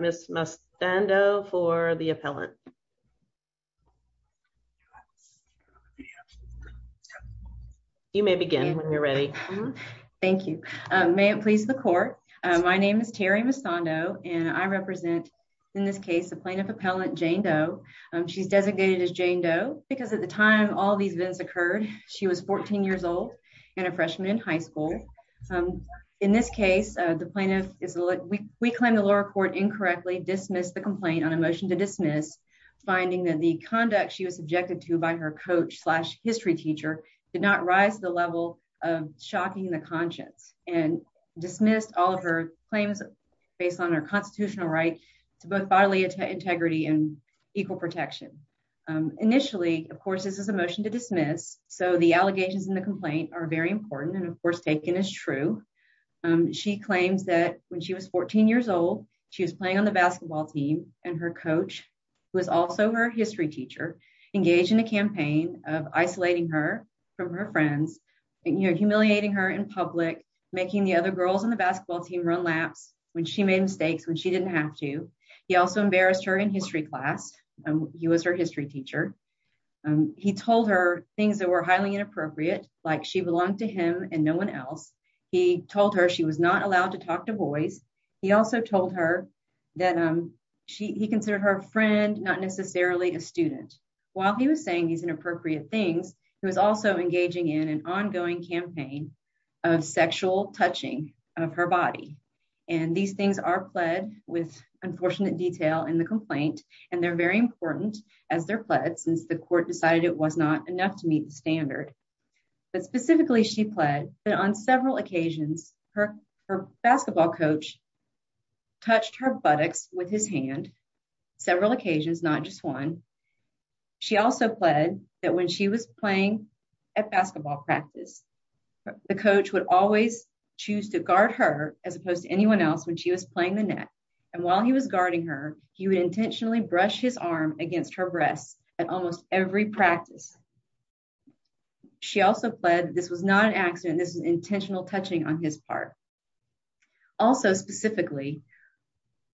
Ms. Mustando for the appellant. You may begin when you're ready. Thank you. May it please the court. My name is Terry Mustando, and I represent. In this case the plaintiff appellant Jane Doe. She's designated as Jane Doe, because at the time all these events occurred. She was 14 years old, and a freshman in high school. In this case, the plaintiff is, we claim the lower court incorrectly dismiss the complaint on a motion to dismiss, finding that the conduct she was subjected to by her coach slash history teacher did not rise the level of shocking the conscience and dismissed all of her claims, based on our constitutional right to both bodily integrity and equal protection. Initially, of course, this is a motion to dismiss, so the allegations in the complaint are very important and of course taken as true. She claims that when she was 14 years old, she was playing on the basketball team, and her coach was also her history teacher engaged in a campaign of isolating her from her friends, and you're humiliating her in public, making the other girls in the She told her she was not allowed to talk to boys. He also told her that she considered her friend, not necessarily a student, while he was saying he's inappropriate things. He was also engaging in an ongoing campaign of sexual touching of her body. And these things are pled with unfortunate detail in the complaint, and they're very important as their blood since the court decided it was not enough to meet the standard. But specifically she pled that on several occasions, her, her basketball coach touched her buttocks with his hand. Several occasions, not just one. She also pled that when she was playing at basketball practice. The coach would always choose to guard her as opposed to anyone else when she was playing the net. And while he was guarding her, he would intentionally brush his arm against her breasts, and almost every practice. She also pled this was not an accident this intentional touching on his part. Also, specifically,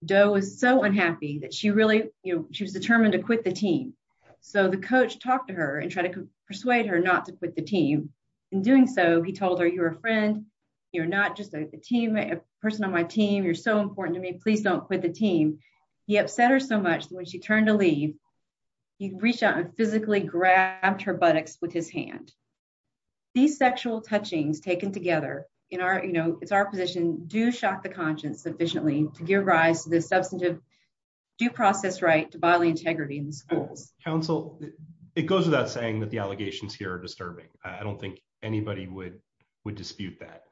doe is so unhappy that she really, you know, she was determined to quit the team. So the coach talked to her and try to persuade her not to quit the team. In doing so, he told her you're a friend. You're not just a team person on my team you're so important to me please don't quit the team. He upset her so much when she turned to leave. He reached out and physically grabbed her buttocks with his hand. These sexual touchings taken together in our, you know, it's our position do shock the conscience sufficiently to give rise to the substantive due process right to bodily integrity in schools, counsel, it goes without saying that the allegations here are disturbing. I don't think anybody would would dispute that.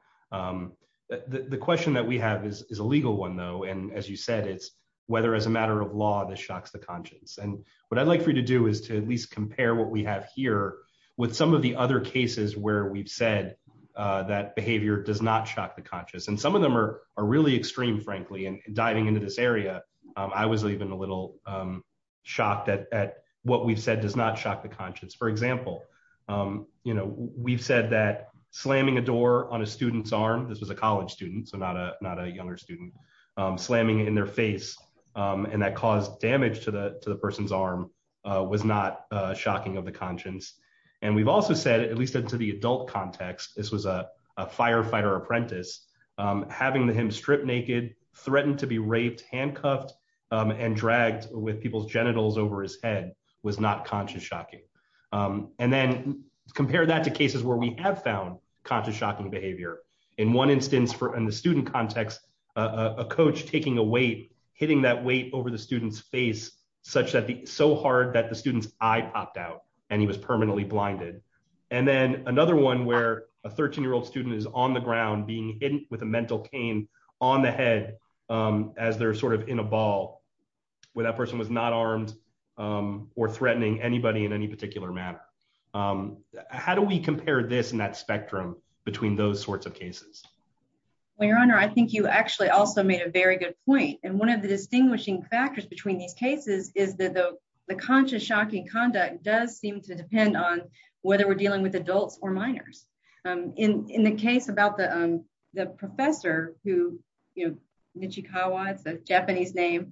The question that we have is a legal one though and as you said it's whether as a matter of law that shocks the conscience and what I'd like for you to do is to at least compare what we have here with some of the other cases where we've said that behavior does not shock the conscious and some of them are are really extreme frankly and diving into this area. I was even a little shocked at what we've said does not shock the conscience. For example, you know, we've said that slamming a door on a student's arm. This was a college student so not a, not a younger student slamming in their face, and that caused damage to the, to the person's arm was not shocking of the conscience. And we've also said at least into the adult context, this was a firefighter apprentice, having the him strip naked threatened to be raped handcuffed and dragged with people's genitals over his head was not conscious shocking. And then compare that to cases where we have found conscious shocking behavior. In one instance for in the student context, a coach taking a weight, hitting that weight over the students face, such that the so hard that the students, I popped out, and he was How do we compare this and that spectrum between those sorts of cases. Well your honor I think you actually also made a very good point, and one of the distinguishing factors between these cases is that the, the conscious shocking conduct does seem to depend on whether we're dealing with adults or minors. In the case about the, the professor who, you know, Michikawa it's a Japanese name,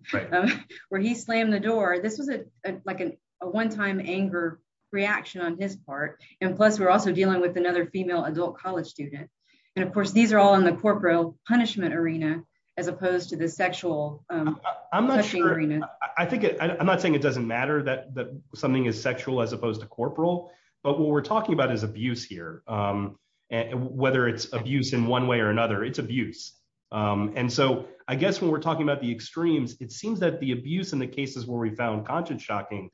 where he slammed the door. This was a, like an, a one time anger reaction on his part, and plus we're also dealing with another female adult college student. And of course these are all in the corporal punishment arena, as opposed to the sexual. I'm not sure. I think I'm not saying it doesn't matter that something is sexual as opposed to corporal, but what we're talking about is abuse here. And whether it's abuse in one way or another, it's abuse. And so, I guess when we're talking about the extremes, it seems that the abuse in the cases where we found conscious shocking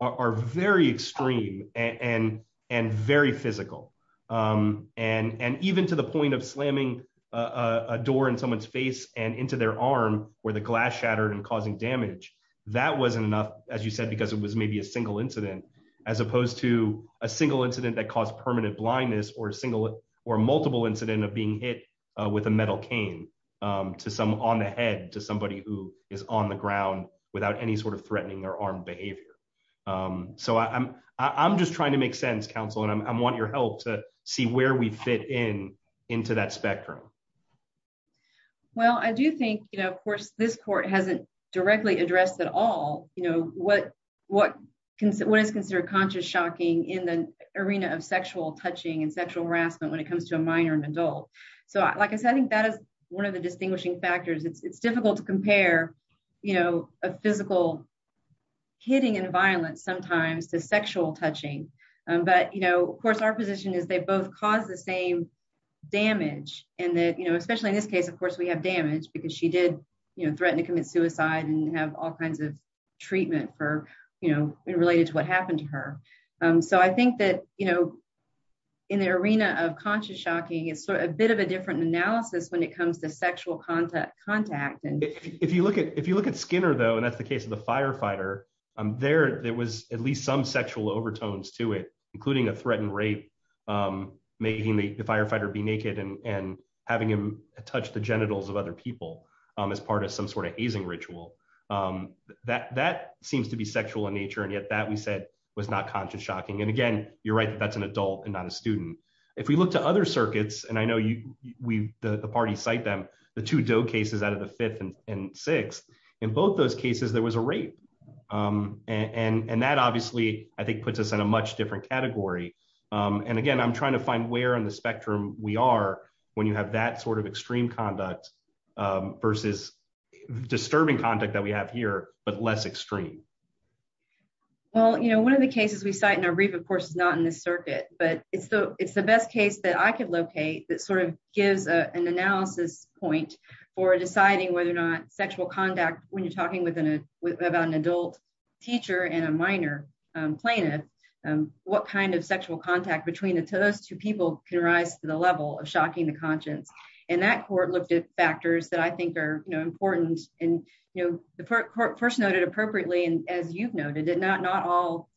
are very extreme and and very physical. And, and even to the point of slamming a door in someone's face and into their arm, where the glass shattered and causing damage. That wasn't enough, as you said because it was maybe a single incident, as opposed to a single incident that caused permanent blindness or single or multiple incident of being hit with a metal cane to some on the head to somebody who is on the ground, without any sort of threatening their arm behavior. So I'm, I'm just trying to make sense counsel and I want your help to see where we fit in, into that spectrum. Well, I do think, you know, of course, this court hasn't directly addressed at all, you know, what, what can say what is considered conscious shocking in the arena of sexual touching and sexual harassment when it comes to a minor and adult. So, like I said, I think that is one of the distinguishing factors it's difficult to compare, you know, a physical hitting and violence sometimes to sexual touching. But, you know, of course our position is they both cause the same damage, and that, you know, especially in this case of course we have damage because she did, you know, threatened to commit suicide and have all kinds of treatment for, you know, related to what it's a bit of a different analysis when it comes to sexual contact contact and if you look at if you look at Skinner though and that's the case of the firefighter. I'm there, there was at least some sexual overtones to it, including a threatened rape, making the firefighter be naked and having him touch the genitals of other people as part of some sort of easing ritual that that seems to be sexual in nature and yet that was not conscious shocking and again, you're right, that's an adult and not a student. If we look to other circuits and I know you, we, the party cite them, the two dough cases out of the fifth and sixth. In both those cases there was a rate. And that obviously I think puts us in a much different category. And again, I'm trying to find where on the spectrum, we are, when you have that sort of extreme conduct versus disturbing contact that we have here, but less extreme. Well, you know, one of the cases we cite in our brief of course is not in this circuit, but it's the, it's the best case that I could locate that sort of gives an analysis point for deciding whether or not sexual contact, when you're talking with an adult teacher and a minor plaintiff, what kind of sexual contact between the two, those two people can rise to the level of shocking the conscience, and that court looked at factors that I think are important, and the court first noted appropriately and as you've seen in the case of New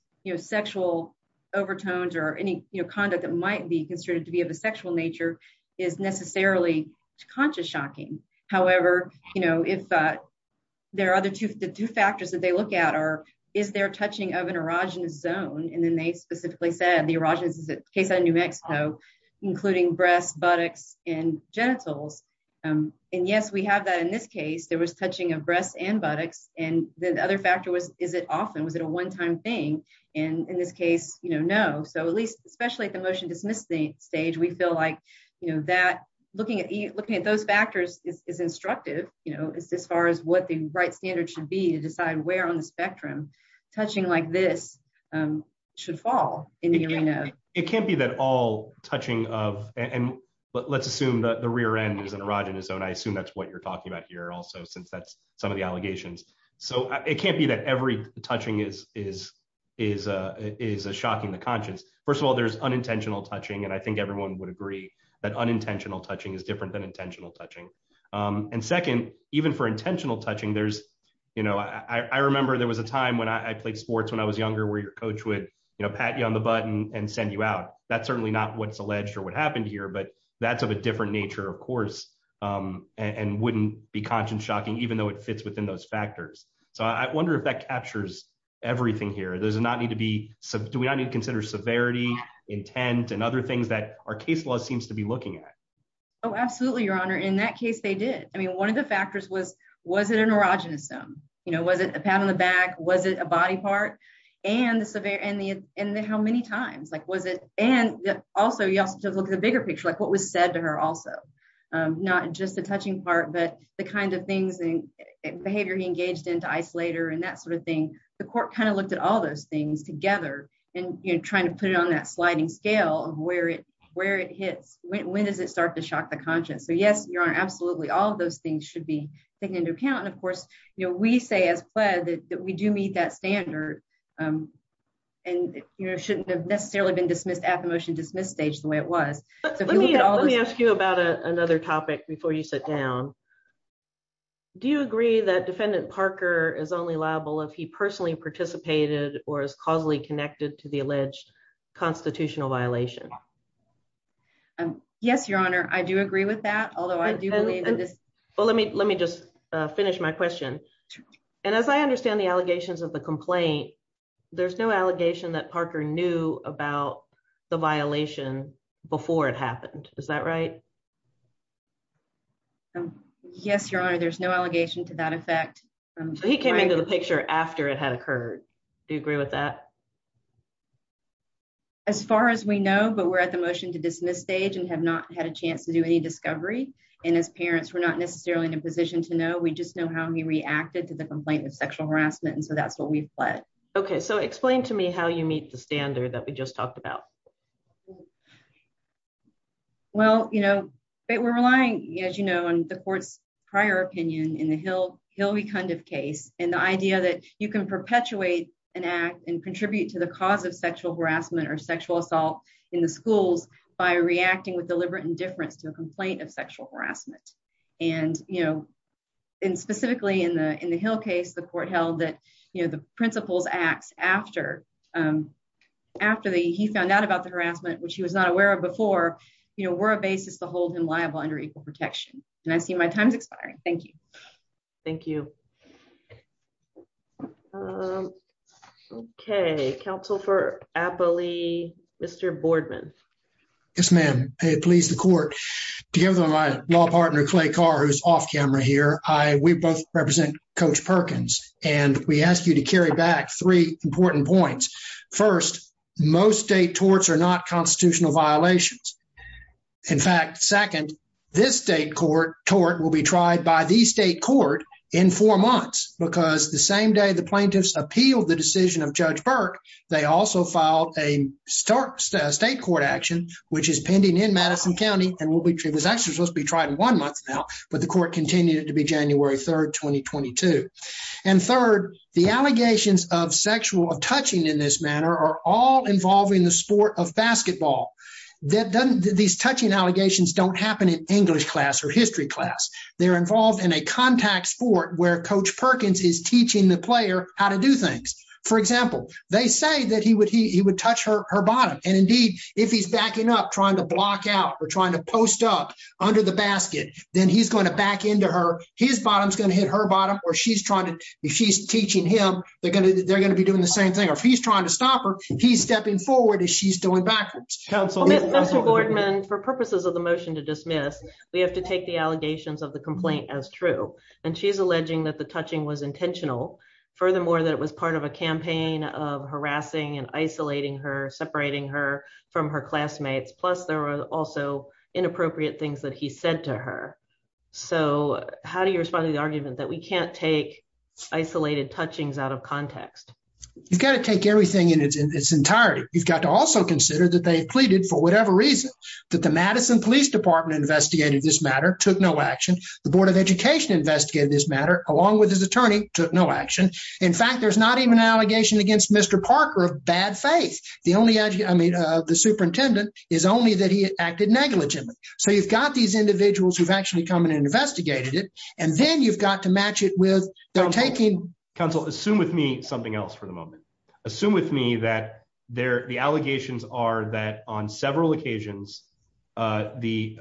Mexico. And then the other factors that the court looked at are, is there touching of an erogenous zone, and then they specifically said the erogenous is a case of New Mexico, including breasts, buttocks, and genitals. And yes, we have that in this case there was touching of breasts and buttocks, and the other factor was, is it often was it a one time thing. And in this case, you know, no, so at least, especially at the motion dismissing stage we feel like you know that looking at looking at those factors is instructive, you know, it's as far as what the right standard should be to decide where on the spectrum, touching like this should fall in the arena. It can't be that all touching of, and let's assume that the rear end is an erogenous zone I assume that's what you're talking about here also since that's some of the allegations. So, it can't be that every touching is, is, is a is a shocking the conscience. First of all, there's unintentional touching and I think everyone would agree that unintentional touching is different than intentional touching. And second, even for intentional touching there's, you know, I remember there was a time when I played sports when I was younger where your coach would, you know, pat you on the button and send you out. That's certainly not what's alleged or what happened here but that's of a different nature of course, and wouldn't be conscious shocking even though it fits within those factors. So I wonder if that captures everything here there's not need to be some do we need to consider severity intent and other things that are case law seems to be looking at. Oh absolutely your honor in that case they did. I mean one of the factors was, was it an erogenous them, you know, was it a pat on the back, was it a body part, and the severe and the, and how many times like was it, and also you also just look at the bigger picture like what was said to her also not just a touching part but the kind of things and behavior he engaged into isolator and that sort of thing. The court kind of looked at all those things together, and you're trying to put it on that sliding scale of where it where it hits, when does it start to shock the conscience so yes you're absolutely all those things should be taken into account and of course, you know, we say as well that we do meet that standard. And, you know, shouldn't have necessarily been dismissed at the motion dismiss stage the way it was. Let me ask you about another topic before you sit down. Do you agree that defendant Parker is only liable if he personally participated, or is causally connected to the alleged constitutional violation. Yes, Your Honor, I do agree with that, although I do believe in this. Well let me let me just finish my question. And as I understand the allegations of the complaint. There's no allegation that Parker knew about the violation before it happened. Is that right. Yes, Your Honor, there's no allegation to that effect. He came into the picture after it had occurred. Do you agree with that. As far as we know, but we're at the motion to dismiss stage and have not had a chance to do any discovery. And as parents were not necessarily in a position to know we just know how he reacted to the complaint of sexual harassment and so that's what we fled. Okay, so explain to me how you meet the standard that we just talked about. Well, you know, but we're relying, as you know, and the courts prior opinion in the hill, he'll be kind of case, and the idea that you can perpetuate an act and contribute to the cause of sexual harassment or sexual assault in the schools by reacting with deliberate indifference to a complaint of sexual harassment. And, you know, in specifically in the in the hill case the court held that, you know, the principles acts after. After the he found out about the harassment which he was not aware of before, you know, we're a basis to hold him liable under equal protection, and I see my time's expiring. Thank you. Thank you. Okay, Council for happily. Mr Boardman. Yes, ma'am. Please the court. Do you have a law partner clay car who's off camera here, I, we both represent coach Perkins, and we asked you to carry back three important points. First, most state torts are not constitutional violations. In fact, second, this state court tort will be tried by the state court in four months, because the same day the plaintiffs appeal the decision of Judge Burke. They also filed a start state court action, which is pending in Madison County, and will be treated was actually supposed to be tried in one month now, but the court continued to be January 3 2022. And third, the allegations of sexual touching in this manner are all involving the sport of basketball. That doesn't these touching allegations don't happen in English class or history class, they're involved in a contact sport where coach Perkins is teaching the player, how to do things. For example, they say that he would he would touch her, her bottom, and indeed, if he's backing up trying to block out or trying to post up under the basket, then he's going to back into her, his bottom is going to hit her bottom, or she's trying to, she's teaching him, they're going to, they're going to be doing the same thing if he's trying to stop her, he's stepping forward and she's doing backwards. For purposes of the motion to dismiss, we have to take the allegations of the complaint as true, and she's alleging that the touching was intentional. Furthermore, that was part of a campaign of harassing and isolating her separating her from her classmates plus there were also inappropriate things that he said to her. So, how do you respond to the argument that we can't take isolated touchings out of context, you've got to take everything in its entirety, you've got to also consider that they pleaded for whatever reason that the Madison Police Department investigated this matter took no action, the Board of Education investigated this matter, along with his attorney took no action. In fact, there's not even an allegation against Mr Parker of bad faith, the only I mean the superintendent is only that he acted negligently. So you've got these individuals who've actually come in and investigated it, and then you've got to match it with the taking council assume with me something else for the moment. Assume with me that they're the allegations are that on several occasions. The,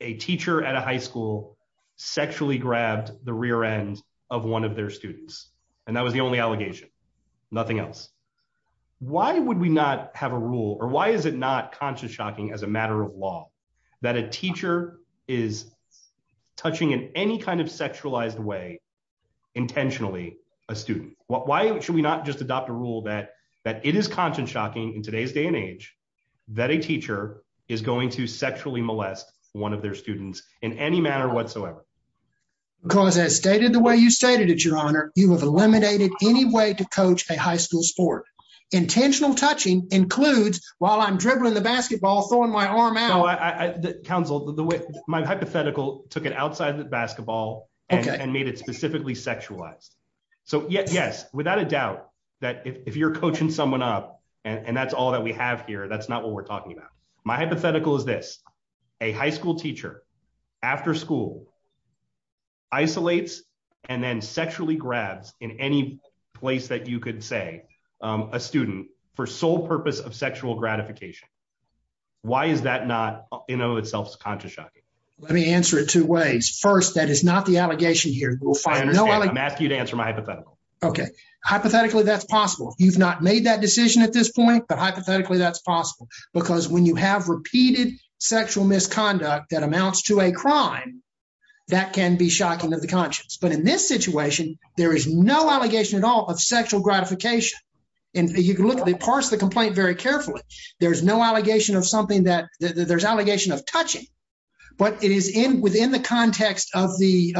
a teacher at a high school sexually grabbed the rear end of one of their students, and that was the only allegation. Nothing else. Why would we not have a rule or why is it not conscious shocking as a matter of law that a teacher is touching in any kind of sexualized way intentionally a student, why should we not just adopt a rule that that it is conscious shocking in today's day and age that a teacher is going to sexually molest, one of their students in any manner whatsoever, because as stated the way you stated it your honor, you have eliminated any way to coach a high school sport intentional touching includes while I'm dribbling the basketball throwing my arm out I counsel the way my hypothetical took it outside the basketball and made it specifically sexualized. So, yes, yes, without a doubt that if you're coaching someone up, and that's all that we have here that's not what we're talking about my hypothetical is this a high school teacher after school isolates, and then sexually grabs in any place that you could say a student for sole purpose of sexual gratification. Why is that not, you know itself is conscious shocking. Let me answer it two ways. First, that is not the allegation here will find no I'm asking you to answer my hypothetical. Okay, hypothetically that's possible, you've not made that decision at this point but hypothetically that's possible, because when you have repeated sexual misconduct that amounts to a crime that can be shocking to the conscience but in this situation, there is no allegation at all of sexual gratification. And you can look at the parts of the complaint very carefully. There's no allegation of something that there's allegation of touching, but it is in within the context of the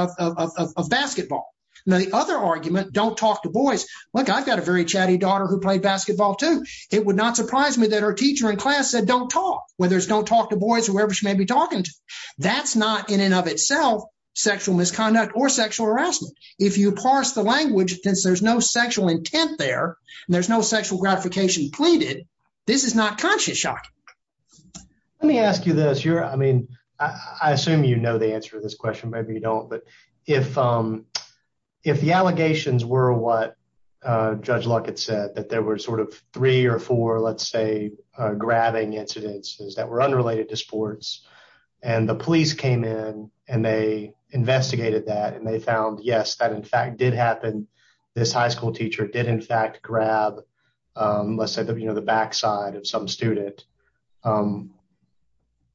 basketball. Now the other argument don't talk to boys. Look, I've got a very chatty daughter who played basketball too. It would not surprise me that our teacher in class said don't talk, whether it's don't talk to boys whoever she may be talking to. That's not in and of itself, sexual misconduct or sexual harassment. If you parse the language, since there's no sexual intent there. There's no sexual gratification pleaded. This is not conscious shock. Let me ask you this you're I mean, I assume you know the answer to this question maybe you don't but if, if the allegations were what Judge Luckett said that there were sort of three or four let's say, grabbing incidents that were unrelated to sports, and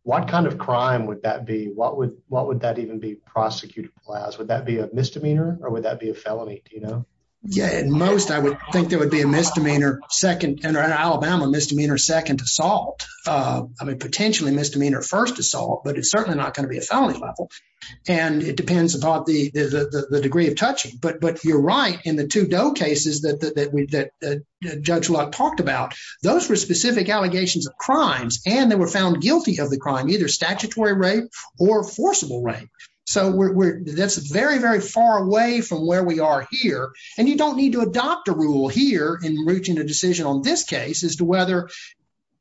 what kind of crime would that be what would, what would that even be prosecuted class would that be a misdemeanor, or would that be a felony, you know, yeah, and most I would think there would be a misdemeanor second in Alabama misdemeanor second assault. I mean, potentially misdemeanor first assault but it's certainly not going to be a felony level. And it depends upon the, the degree of touching but but you're right in the two doe cases that we that Judge Luck talked about those were specific allegations of crimes, and they were found guilty of the crime either statutory rape or forcible rape. So, that's very, very far away from where we are here, and you don't need to adopt a rule here in reaching a decision on this case as to whether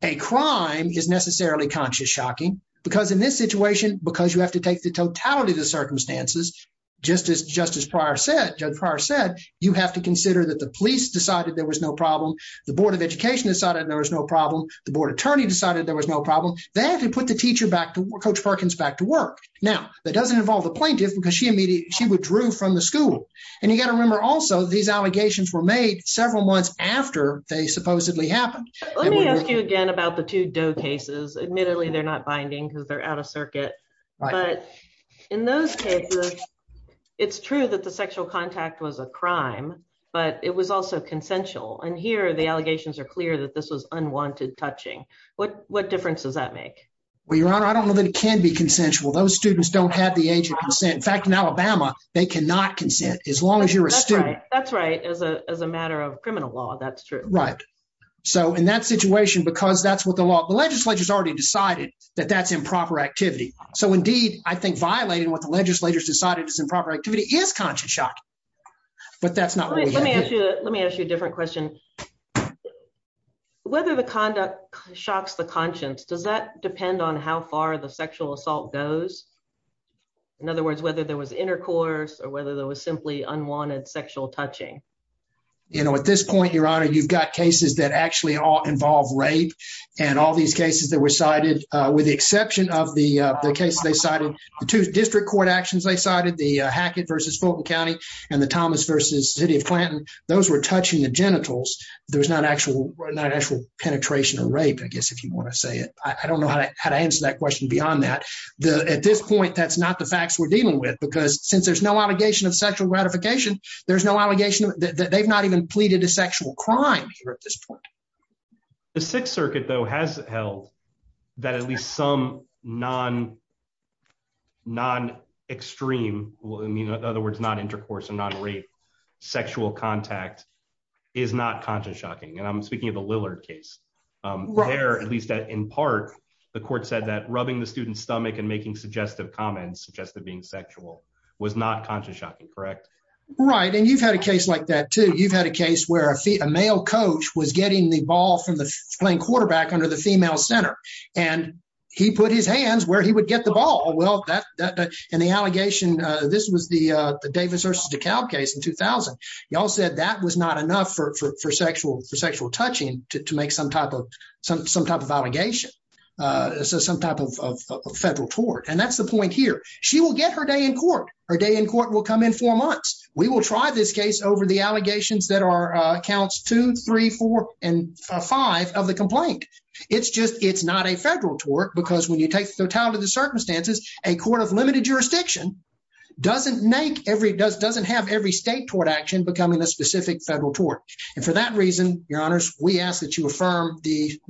a crime is necessarily conscious shocking, because in this situation, because you have to take the totality of the circumstances. Just as Justice prior said, Judge prior said, you have to consider that the police decided there was no problem. The Board of Education decided there was no problem, the board attorney decided there was no problem that and put the teacher back to coach Perkins back to work. Now, that doesn't involve the plaintiff because she immediately she withdrew from the school. And you got to remember also these allegations were made several months after they supposedly happened. Let me ask you again about the two doe cases admittedly they're not binding because they're out of circuit. But in those cases, it's true that the sexual contact was a crime, but it was also consensual and here the allegations are clear that this was unwanted touching. What difference does that make? Well, Your Honor, I don't know that it can be consensual. Those students don't have the age of consent. In fact, in Alabama, they cannot consent as long as you're a student. That's right. As a matter of criminal law, that's true. Right. So, in that situation, because that's what the law, the legislature has already decided that that's improper activity. So indeed, I think violating what the legislators decided is improper activity is conscious shocking. But that's not. Let me ask you. Let me ask you a different question. Whether the conduct shocks the conscience. Does that depend on how far the sexual assault goes? In other words, whether there was intercourse or whether there was simply unwanted sexual touching. You know, at this point, Your Honor, you've got cases that actually all involve rape and all these cases that were cited, with the exception of the case, they cited the two district court actions. They cited the Hackett versus Fulton County and the Thomas versus city of Clanton. Those were touching the genitals. There was not actual penetration of rape. I guess if you want to say it, I don't know how to answer that question beyond that. At this point, that's not the facts we're dealing with, because since there's no allegation of sexual gratification, there's no allegation that they've not even pleaded a sexual crime here at this point. The Sixth Circuit, though, has held that at least some non-extreme, in other words, non-intercourse and non-rape sexual contact is not conscious shocking. And I'm speaking of the Lillard case. There, at least in part, the court said that rubbing the student's stomach and making suggestive comments, suggestive being sexual, was not conscious shocking, correct? Right. And you've had a case like that, too. You've had a case where a male coach was getting the ball from the playing quarterback under the female center, and he put his hands where he would get the ball. And the allegation, this was the Davis v. DeKalb case in 2000. Y'all said that was not enough for sexual touching to make some type of allegation, some type of federal tort. And that's the point here. She will get her day in court. Her day in court will come in four months. We will try this case over the allegations that are counts two, three, four, and five of the complaint. It's just it's not a federal tort, because when you take the totality of the circumstances, a court of limited jurisdiction doesn't make every, doesn't have every state tort action becoming a specific federal tort. And for that reason, your honors, we ask that you affirm the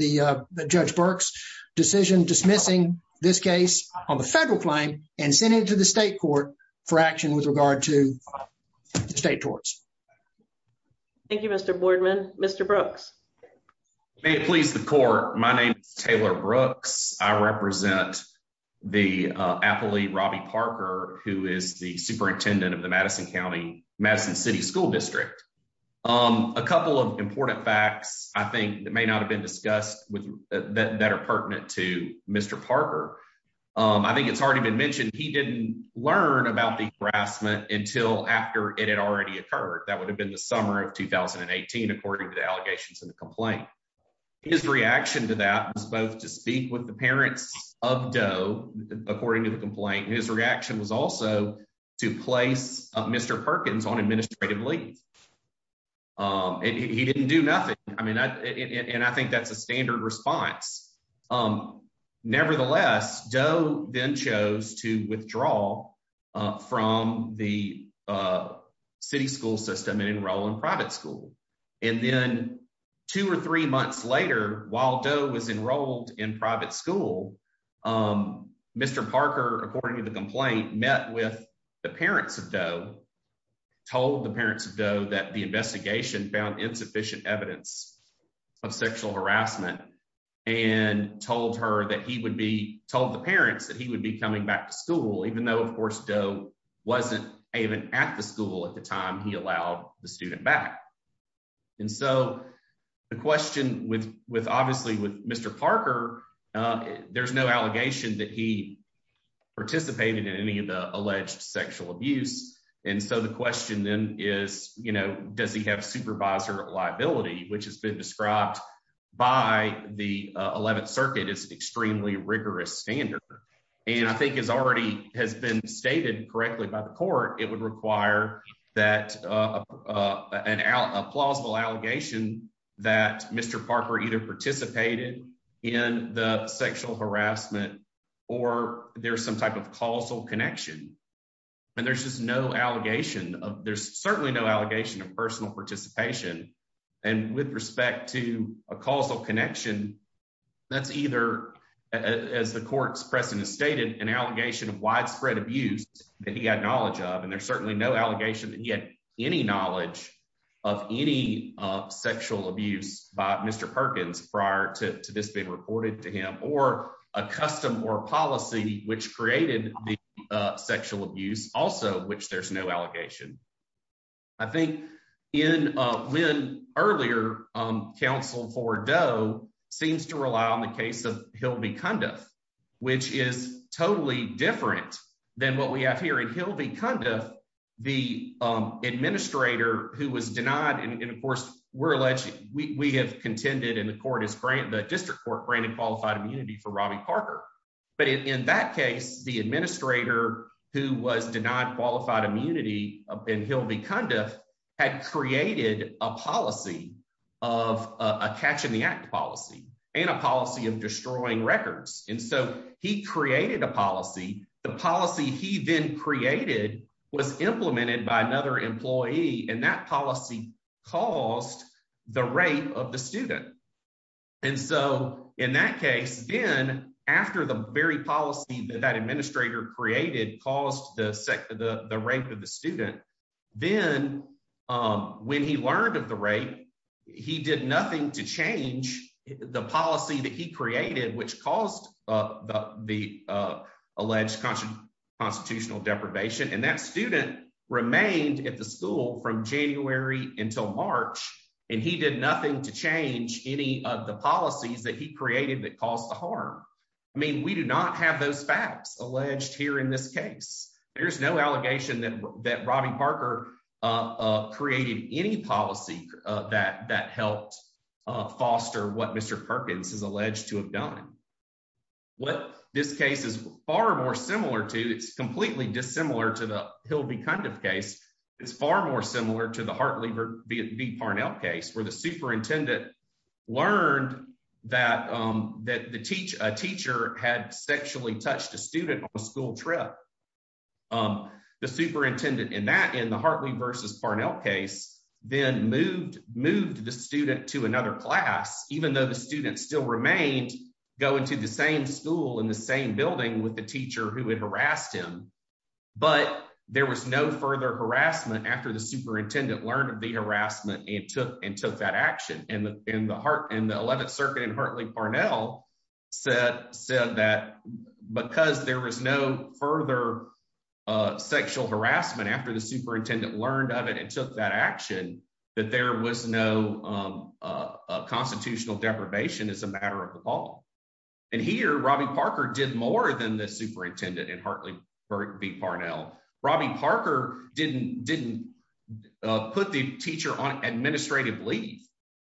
Judge Burke's decision dismissing this case on the federal claim and send it to the state court for action with regard to state torts. Thank you, Mr. Boardman. Mr. Brooks. May it please the court. My name is Taylor Brooks. I represent the appellee Robbie Parker, who is the superintendent of the Madison County, Madison City School District. A couple of important facts, I think, that may not have been discussed with that are pertinent to Mr. Parker. I think it's already been mentioned. He didn't learn about the harassment until after it had already occurred. That would have been the summer of 2018, according to the allegations in the complaint. His reaction to that was both to speak with the parents of Doe, according to the complaint, and his reaction was also to place Mr. Perkins on administrative leave. He didn't do nothing. I mean, and I think that's a standard response. Nevertheless, Doe then chose to withdraw from the city school system and enroll in private school. And then two or three months later, while Doe was enrolled in private school, Mr. Parker, according to the complaint, met with the parents of Doe, told the parents of Doe that the investigation found insufficient evidence of sexual harassment, and told the parents that he would be coming back to school, even though, of course, Doe wasn't even at the school at the time he allowed the student back. And so the question with obviously with Mr. Parker, there's no allegation that he participated in any of the alleged sexual abuse. And so the question then is, you know, does he have supervisor liability, which has been described by the 11th Circuit as extremely rigorous standard. And I think it's already has been stated correctly by the court, it would require that a plausible allegation that Mr. Parker either participated in the sexual harassment, or there's some type of causal connection. And there's just no allegation of there's certainly no allegation of personal participation. And with respect to a causal connection. That's either as the court's precedent stated an allegation of widespread abuse that he had knowledge of and there's certainly no allegation that he had any knowledge of any sexual abuse by Mr. Perkins prior to this being reported to him or a custom or policy, which created the sexual abuse, also which there's no allegation. I think in Lynn earlier counsel for Doe seems to rely on the case of he'll be kind of, which is totally different than what we have here and he'll be kind of the administrator who was denied and of course, we're alleged we have contended in the court is great the district court granted qualified immunity for Robbie Parker, but in that case, the administrator, who was denied qualified immunity and he'll be kind of had created a policy of a catch in the act policy and a policy of destroying records, and so he created a policy, the policy he then created was implemented by another employee and that policy cost, the rate of the student. And so, in that case, then, after the very policy that that administrator created caused the second the the rate of the student. Then, when he learned of the rate. He did nothing to change the policy that he created which caused the alleged constant constitutional deprivation and that student remained at the school from January, until March, and he did nothing to change any of the policies that he created that caused the harm. I mean we do not have those facts alleged here in this case, there's no allegation that that Robbie Parker created any policy that that helped foster what Mr Perkins is alleged to have done what this case is far more similar to it's completely dissimilar to the hill be kind of case. It's far more similar to the Hartley v Parnell case where the superintendent learned that that the teach a teacher had sexually touched a student on a school trip. The superintendent in that in the Hartley versus Parnell case, then moved moved the student to another class, even though the students still remained going to the same school in the same building with the teacher who would harassed him. But there was no further harassment after the superintendent learned of the harassment and took and took that action and in the heart and the 11th circuit and Hartley Parnell said said that, because there was no further sexual harassment after the superintendent learned of it and took that action that there was no constitutional deprivation is a matter of the ball. And here, Robbie Parker did more than the superintendent and Hartley be Parnell Robbie Parker didn't didn't put the teacher on administrative leave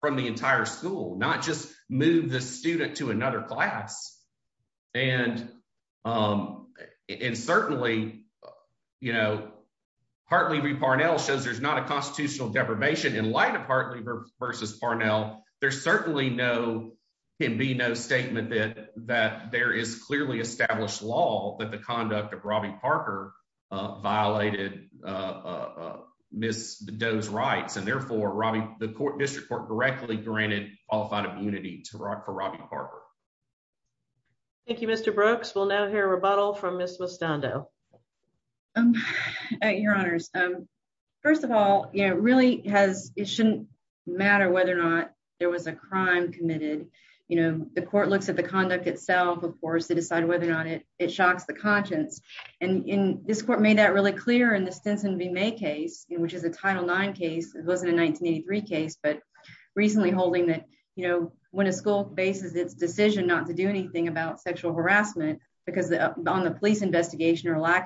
from the entire school not just move the student to another class. And, and certainly, you know, Hartley be Parnell shows there's not a constitutional deprivation in light of Hartley versus Parnell, there's certainly no can be no statement that that there is clearly established law that the conduct of Robbie Parker violated. Miss does rights and therefore Robbie, the court district court directly granted qualified immunity to rock for Robbie Parker. Thank you, Mr Brooks will now hear a rebuttal from Miss mustango. I'm your honors. First of all, you know, really has, it shouldn't matter whether or not there was a crime committed, you know, the court looks at the conduct itself of course to decide whether or not it, it shocks the conscience, and in this court made that really clear in the lack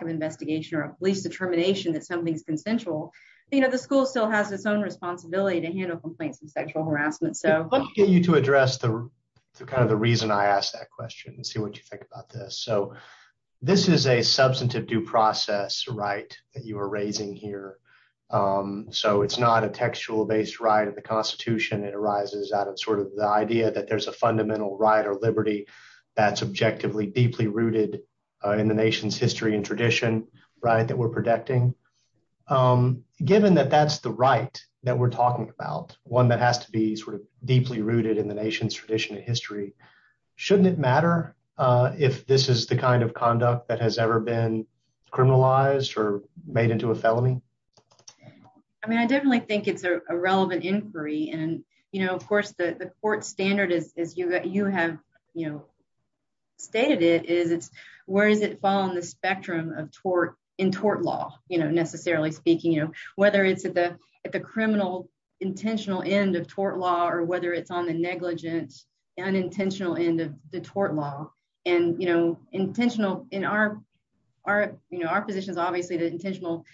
of investigation or police determination that something's consensual. You know the school still has its own responsibility to handle complaints and sexual harassment so you to address the kind of the reason I asked that question and see what you think about this so this is a substantive due process right that you were raising here. So it's not a textual based right of the Constitution, it arises out of sort of the idea that there's a fundamental right or liberty that subjectively deeply rooted in the nation's history and tradition, right that we're protecting given that that's the right that we're talking about one that has to be sort of deeply rooted in the nation's tradition and history. Shouldn't it matter if this is the kind of conduct that has ever been criminalized or made into a felony. I mean I definitely think it's a relevant inquiry and, you know, of course the court standard is you that you have, you know, stated it is it's, where does it fall on the spectrum of tort in tort law, you know, necessarily speaking, you know, whether it's at the, at the criminal intentional end of tort law or whether it's on the negligence and intentional end of the tort law, and, you know, intentional in our, our, you know, our positions obviously the intentional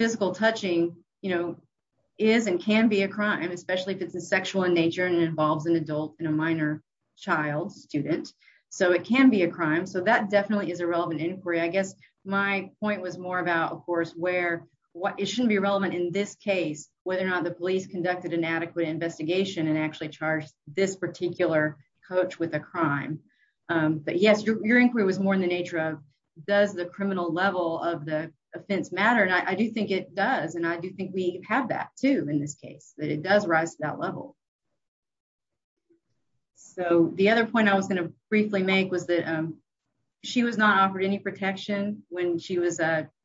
physical touching, you know, is and can be a crime whether or not the police conducted inadequate investigation and actually charged this particular coach with a crime. But yes, your inquiry was more in the nature of, does the criminal level of the offense matter and I do think it does and I do think we have that too in this case that it does rise to that level. So the other point I was going to briefly make was that she was not offered any protection, when she was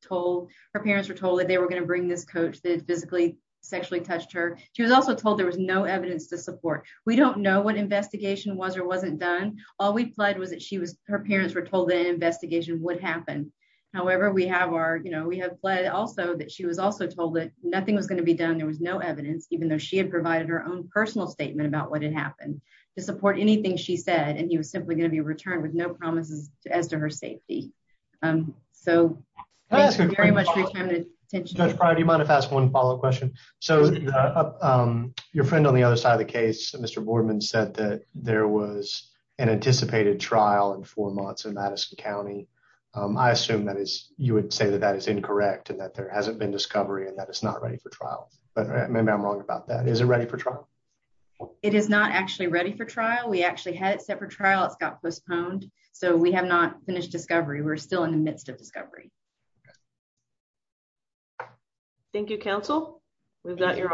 told her parents were told that they were going to bring this coach that physically sexually touched her. She was also told there was no evidence to support. We don't know what investigation was or wasn't done. All we pled was that she was her parents were told the investigation would happen. However, we have our, you know, we have pled also that she was also told that nothing was going to be done there was no evidence, even though she had provided her own personal statement about what had happened to support anything she said and he was simply going to be returned with no promises as to her safety. So, very much. Do you mind if I ask one follow up question. So, your friend on the other side of the case, Mr Boardman said that there was an anticipated trial in four months and Madison County. I assume that is, you would say that that is incorrect and that there hasn't been discovery and that is not ready for trial, but maybe I'm wrong about that is it ready for trial. It is not actually ready for trial we actually had separate trial it's got postponed, so we have not finished discovery we're still in the midst of discovery. Thank you counsel. We've got your arguments.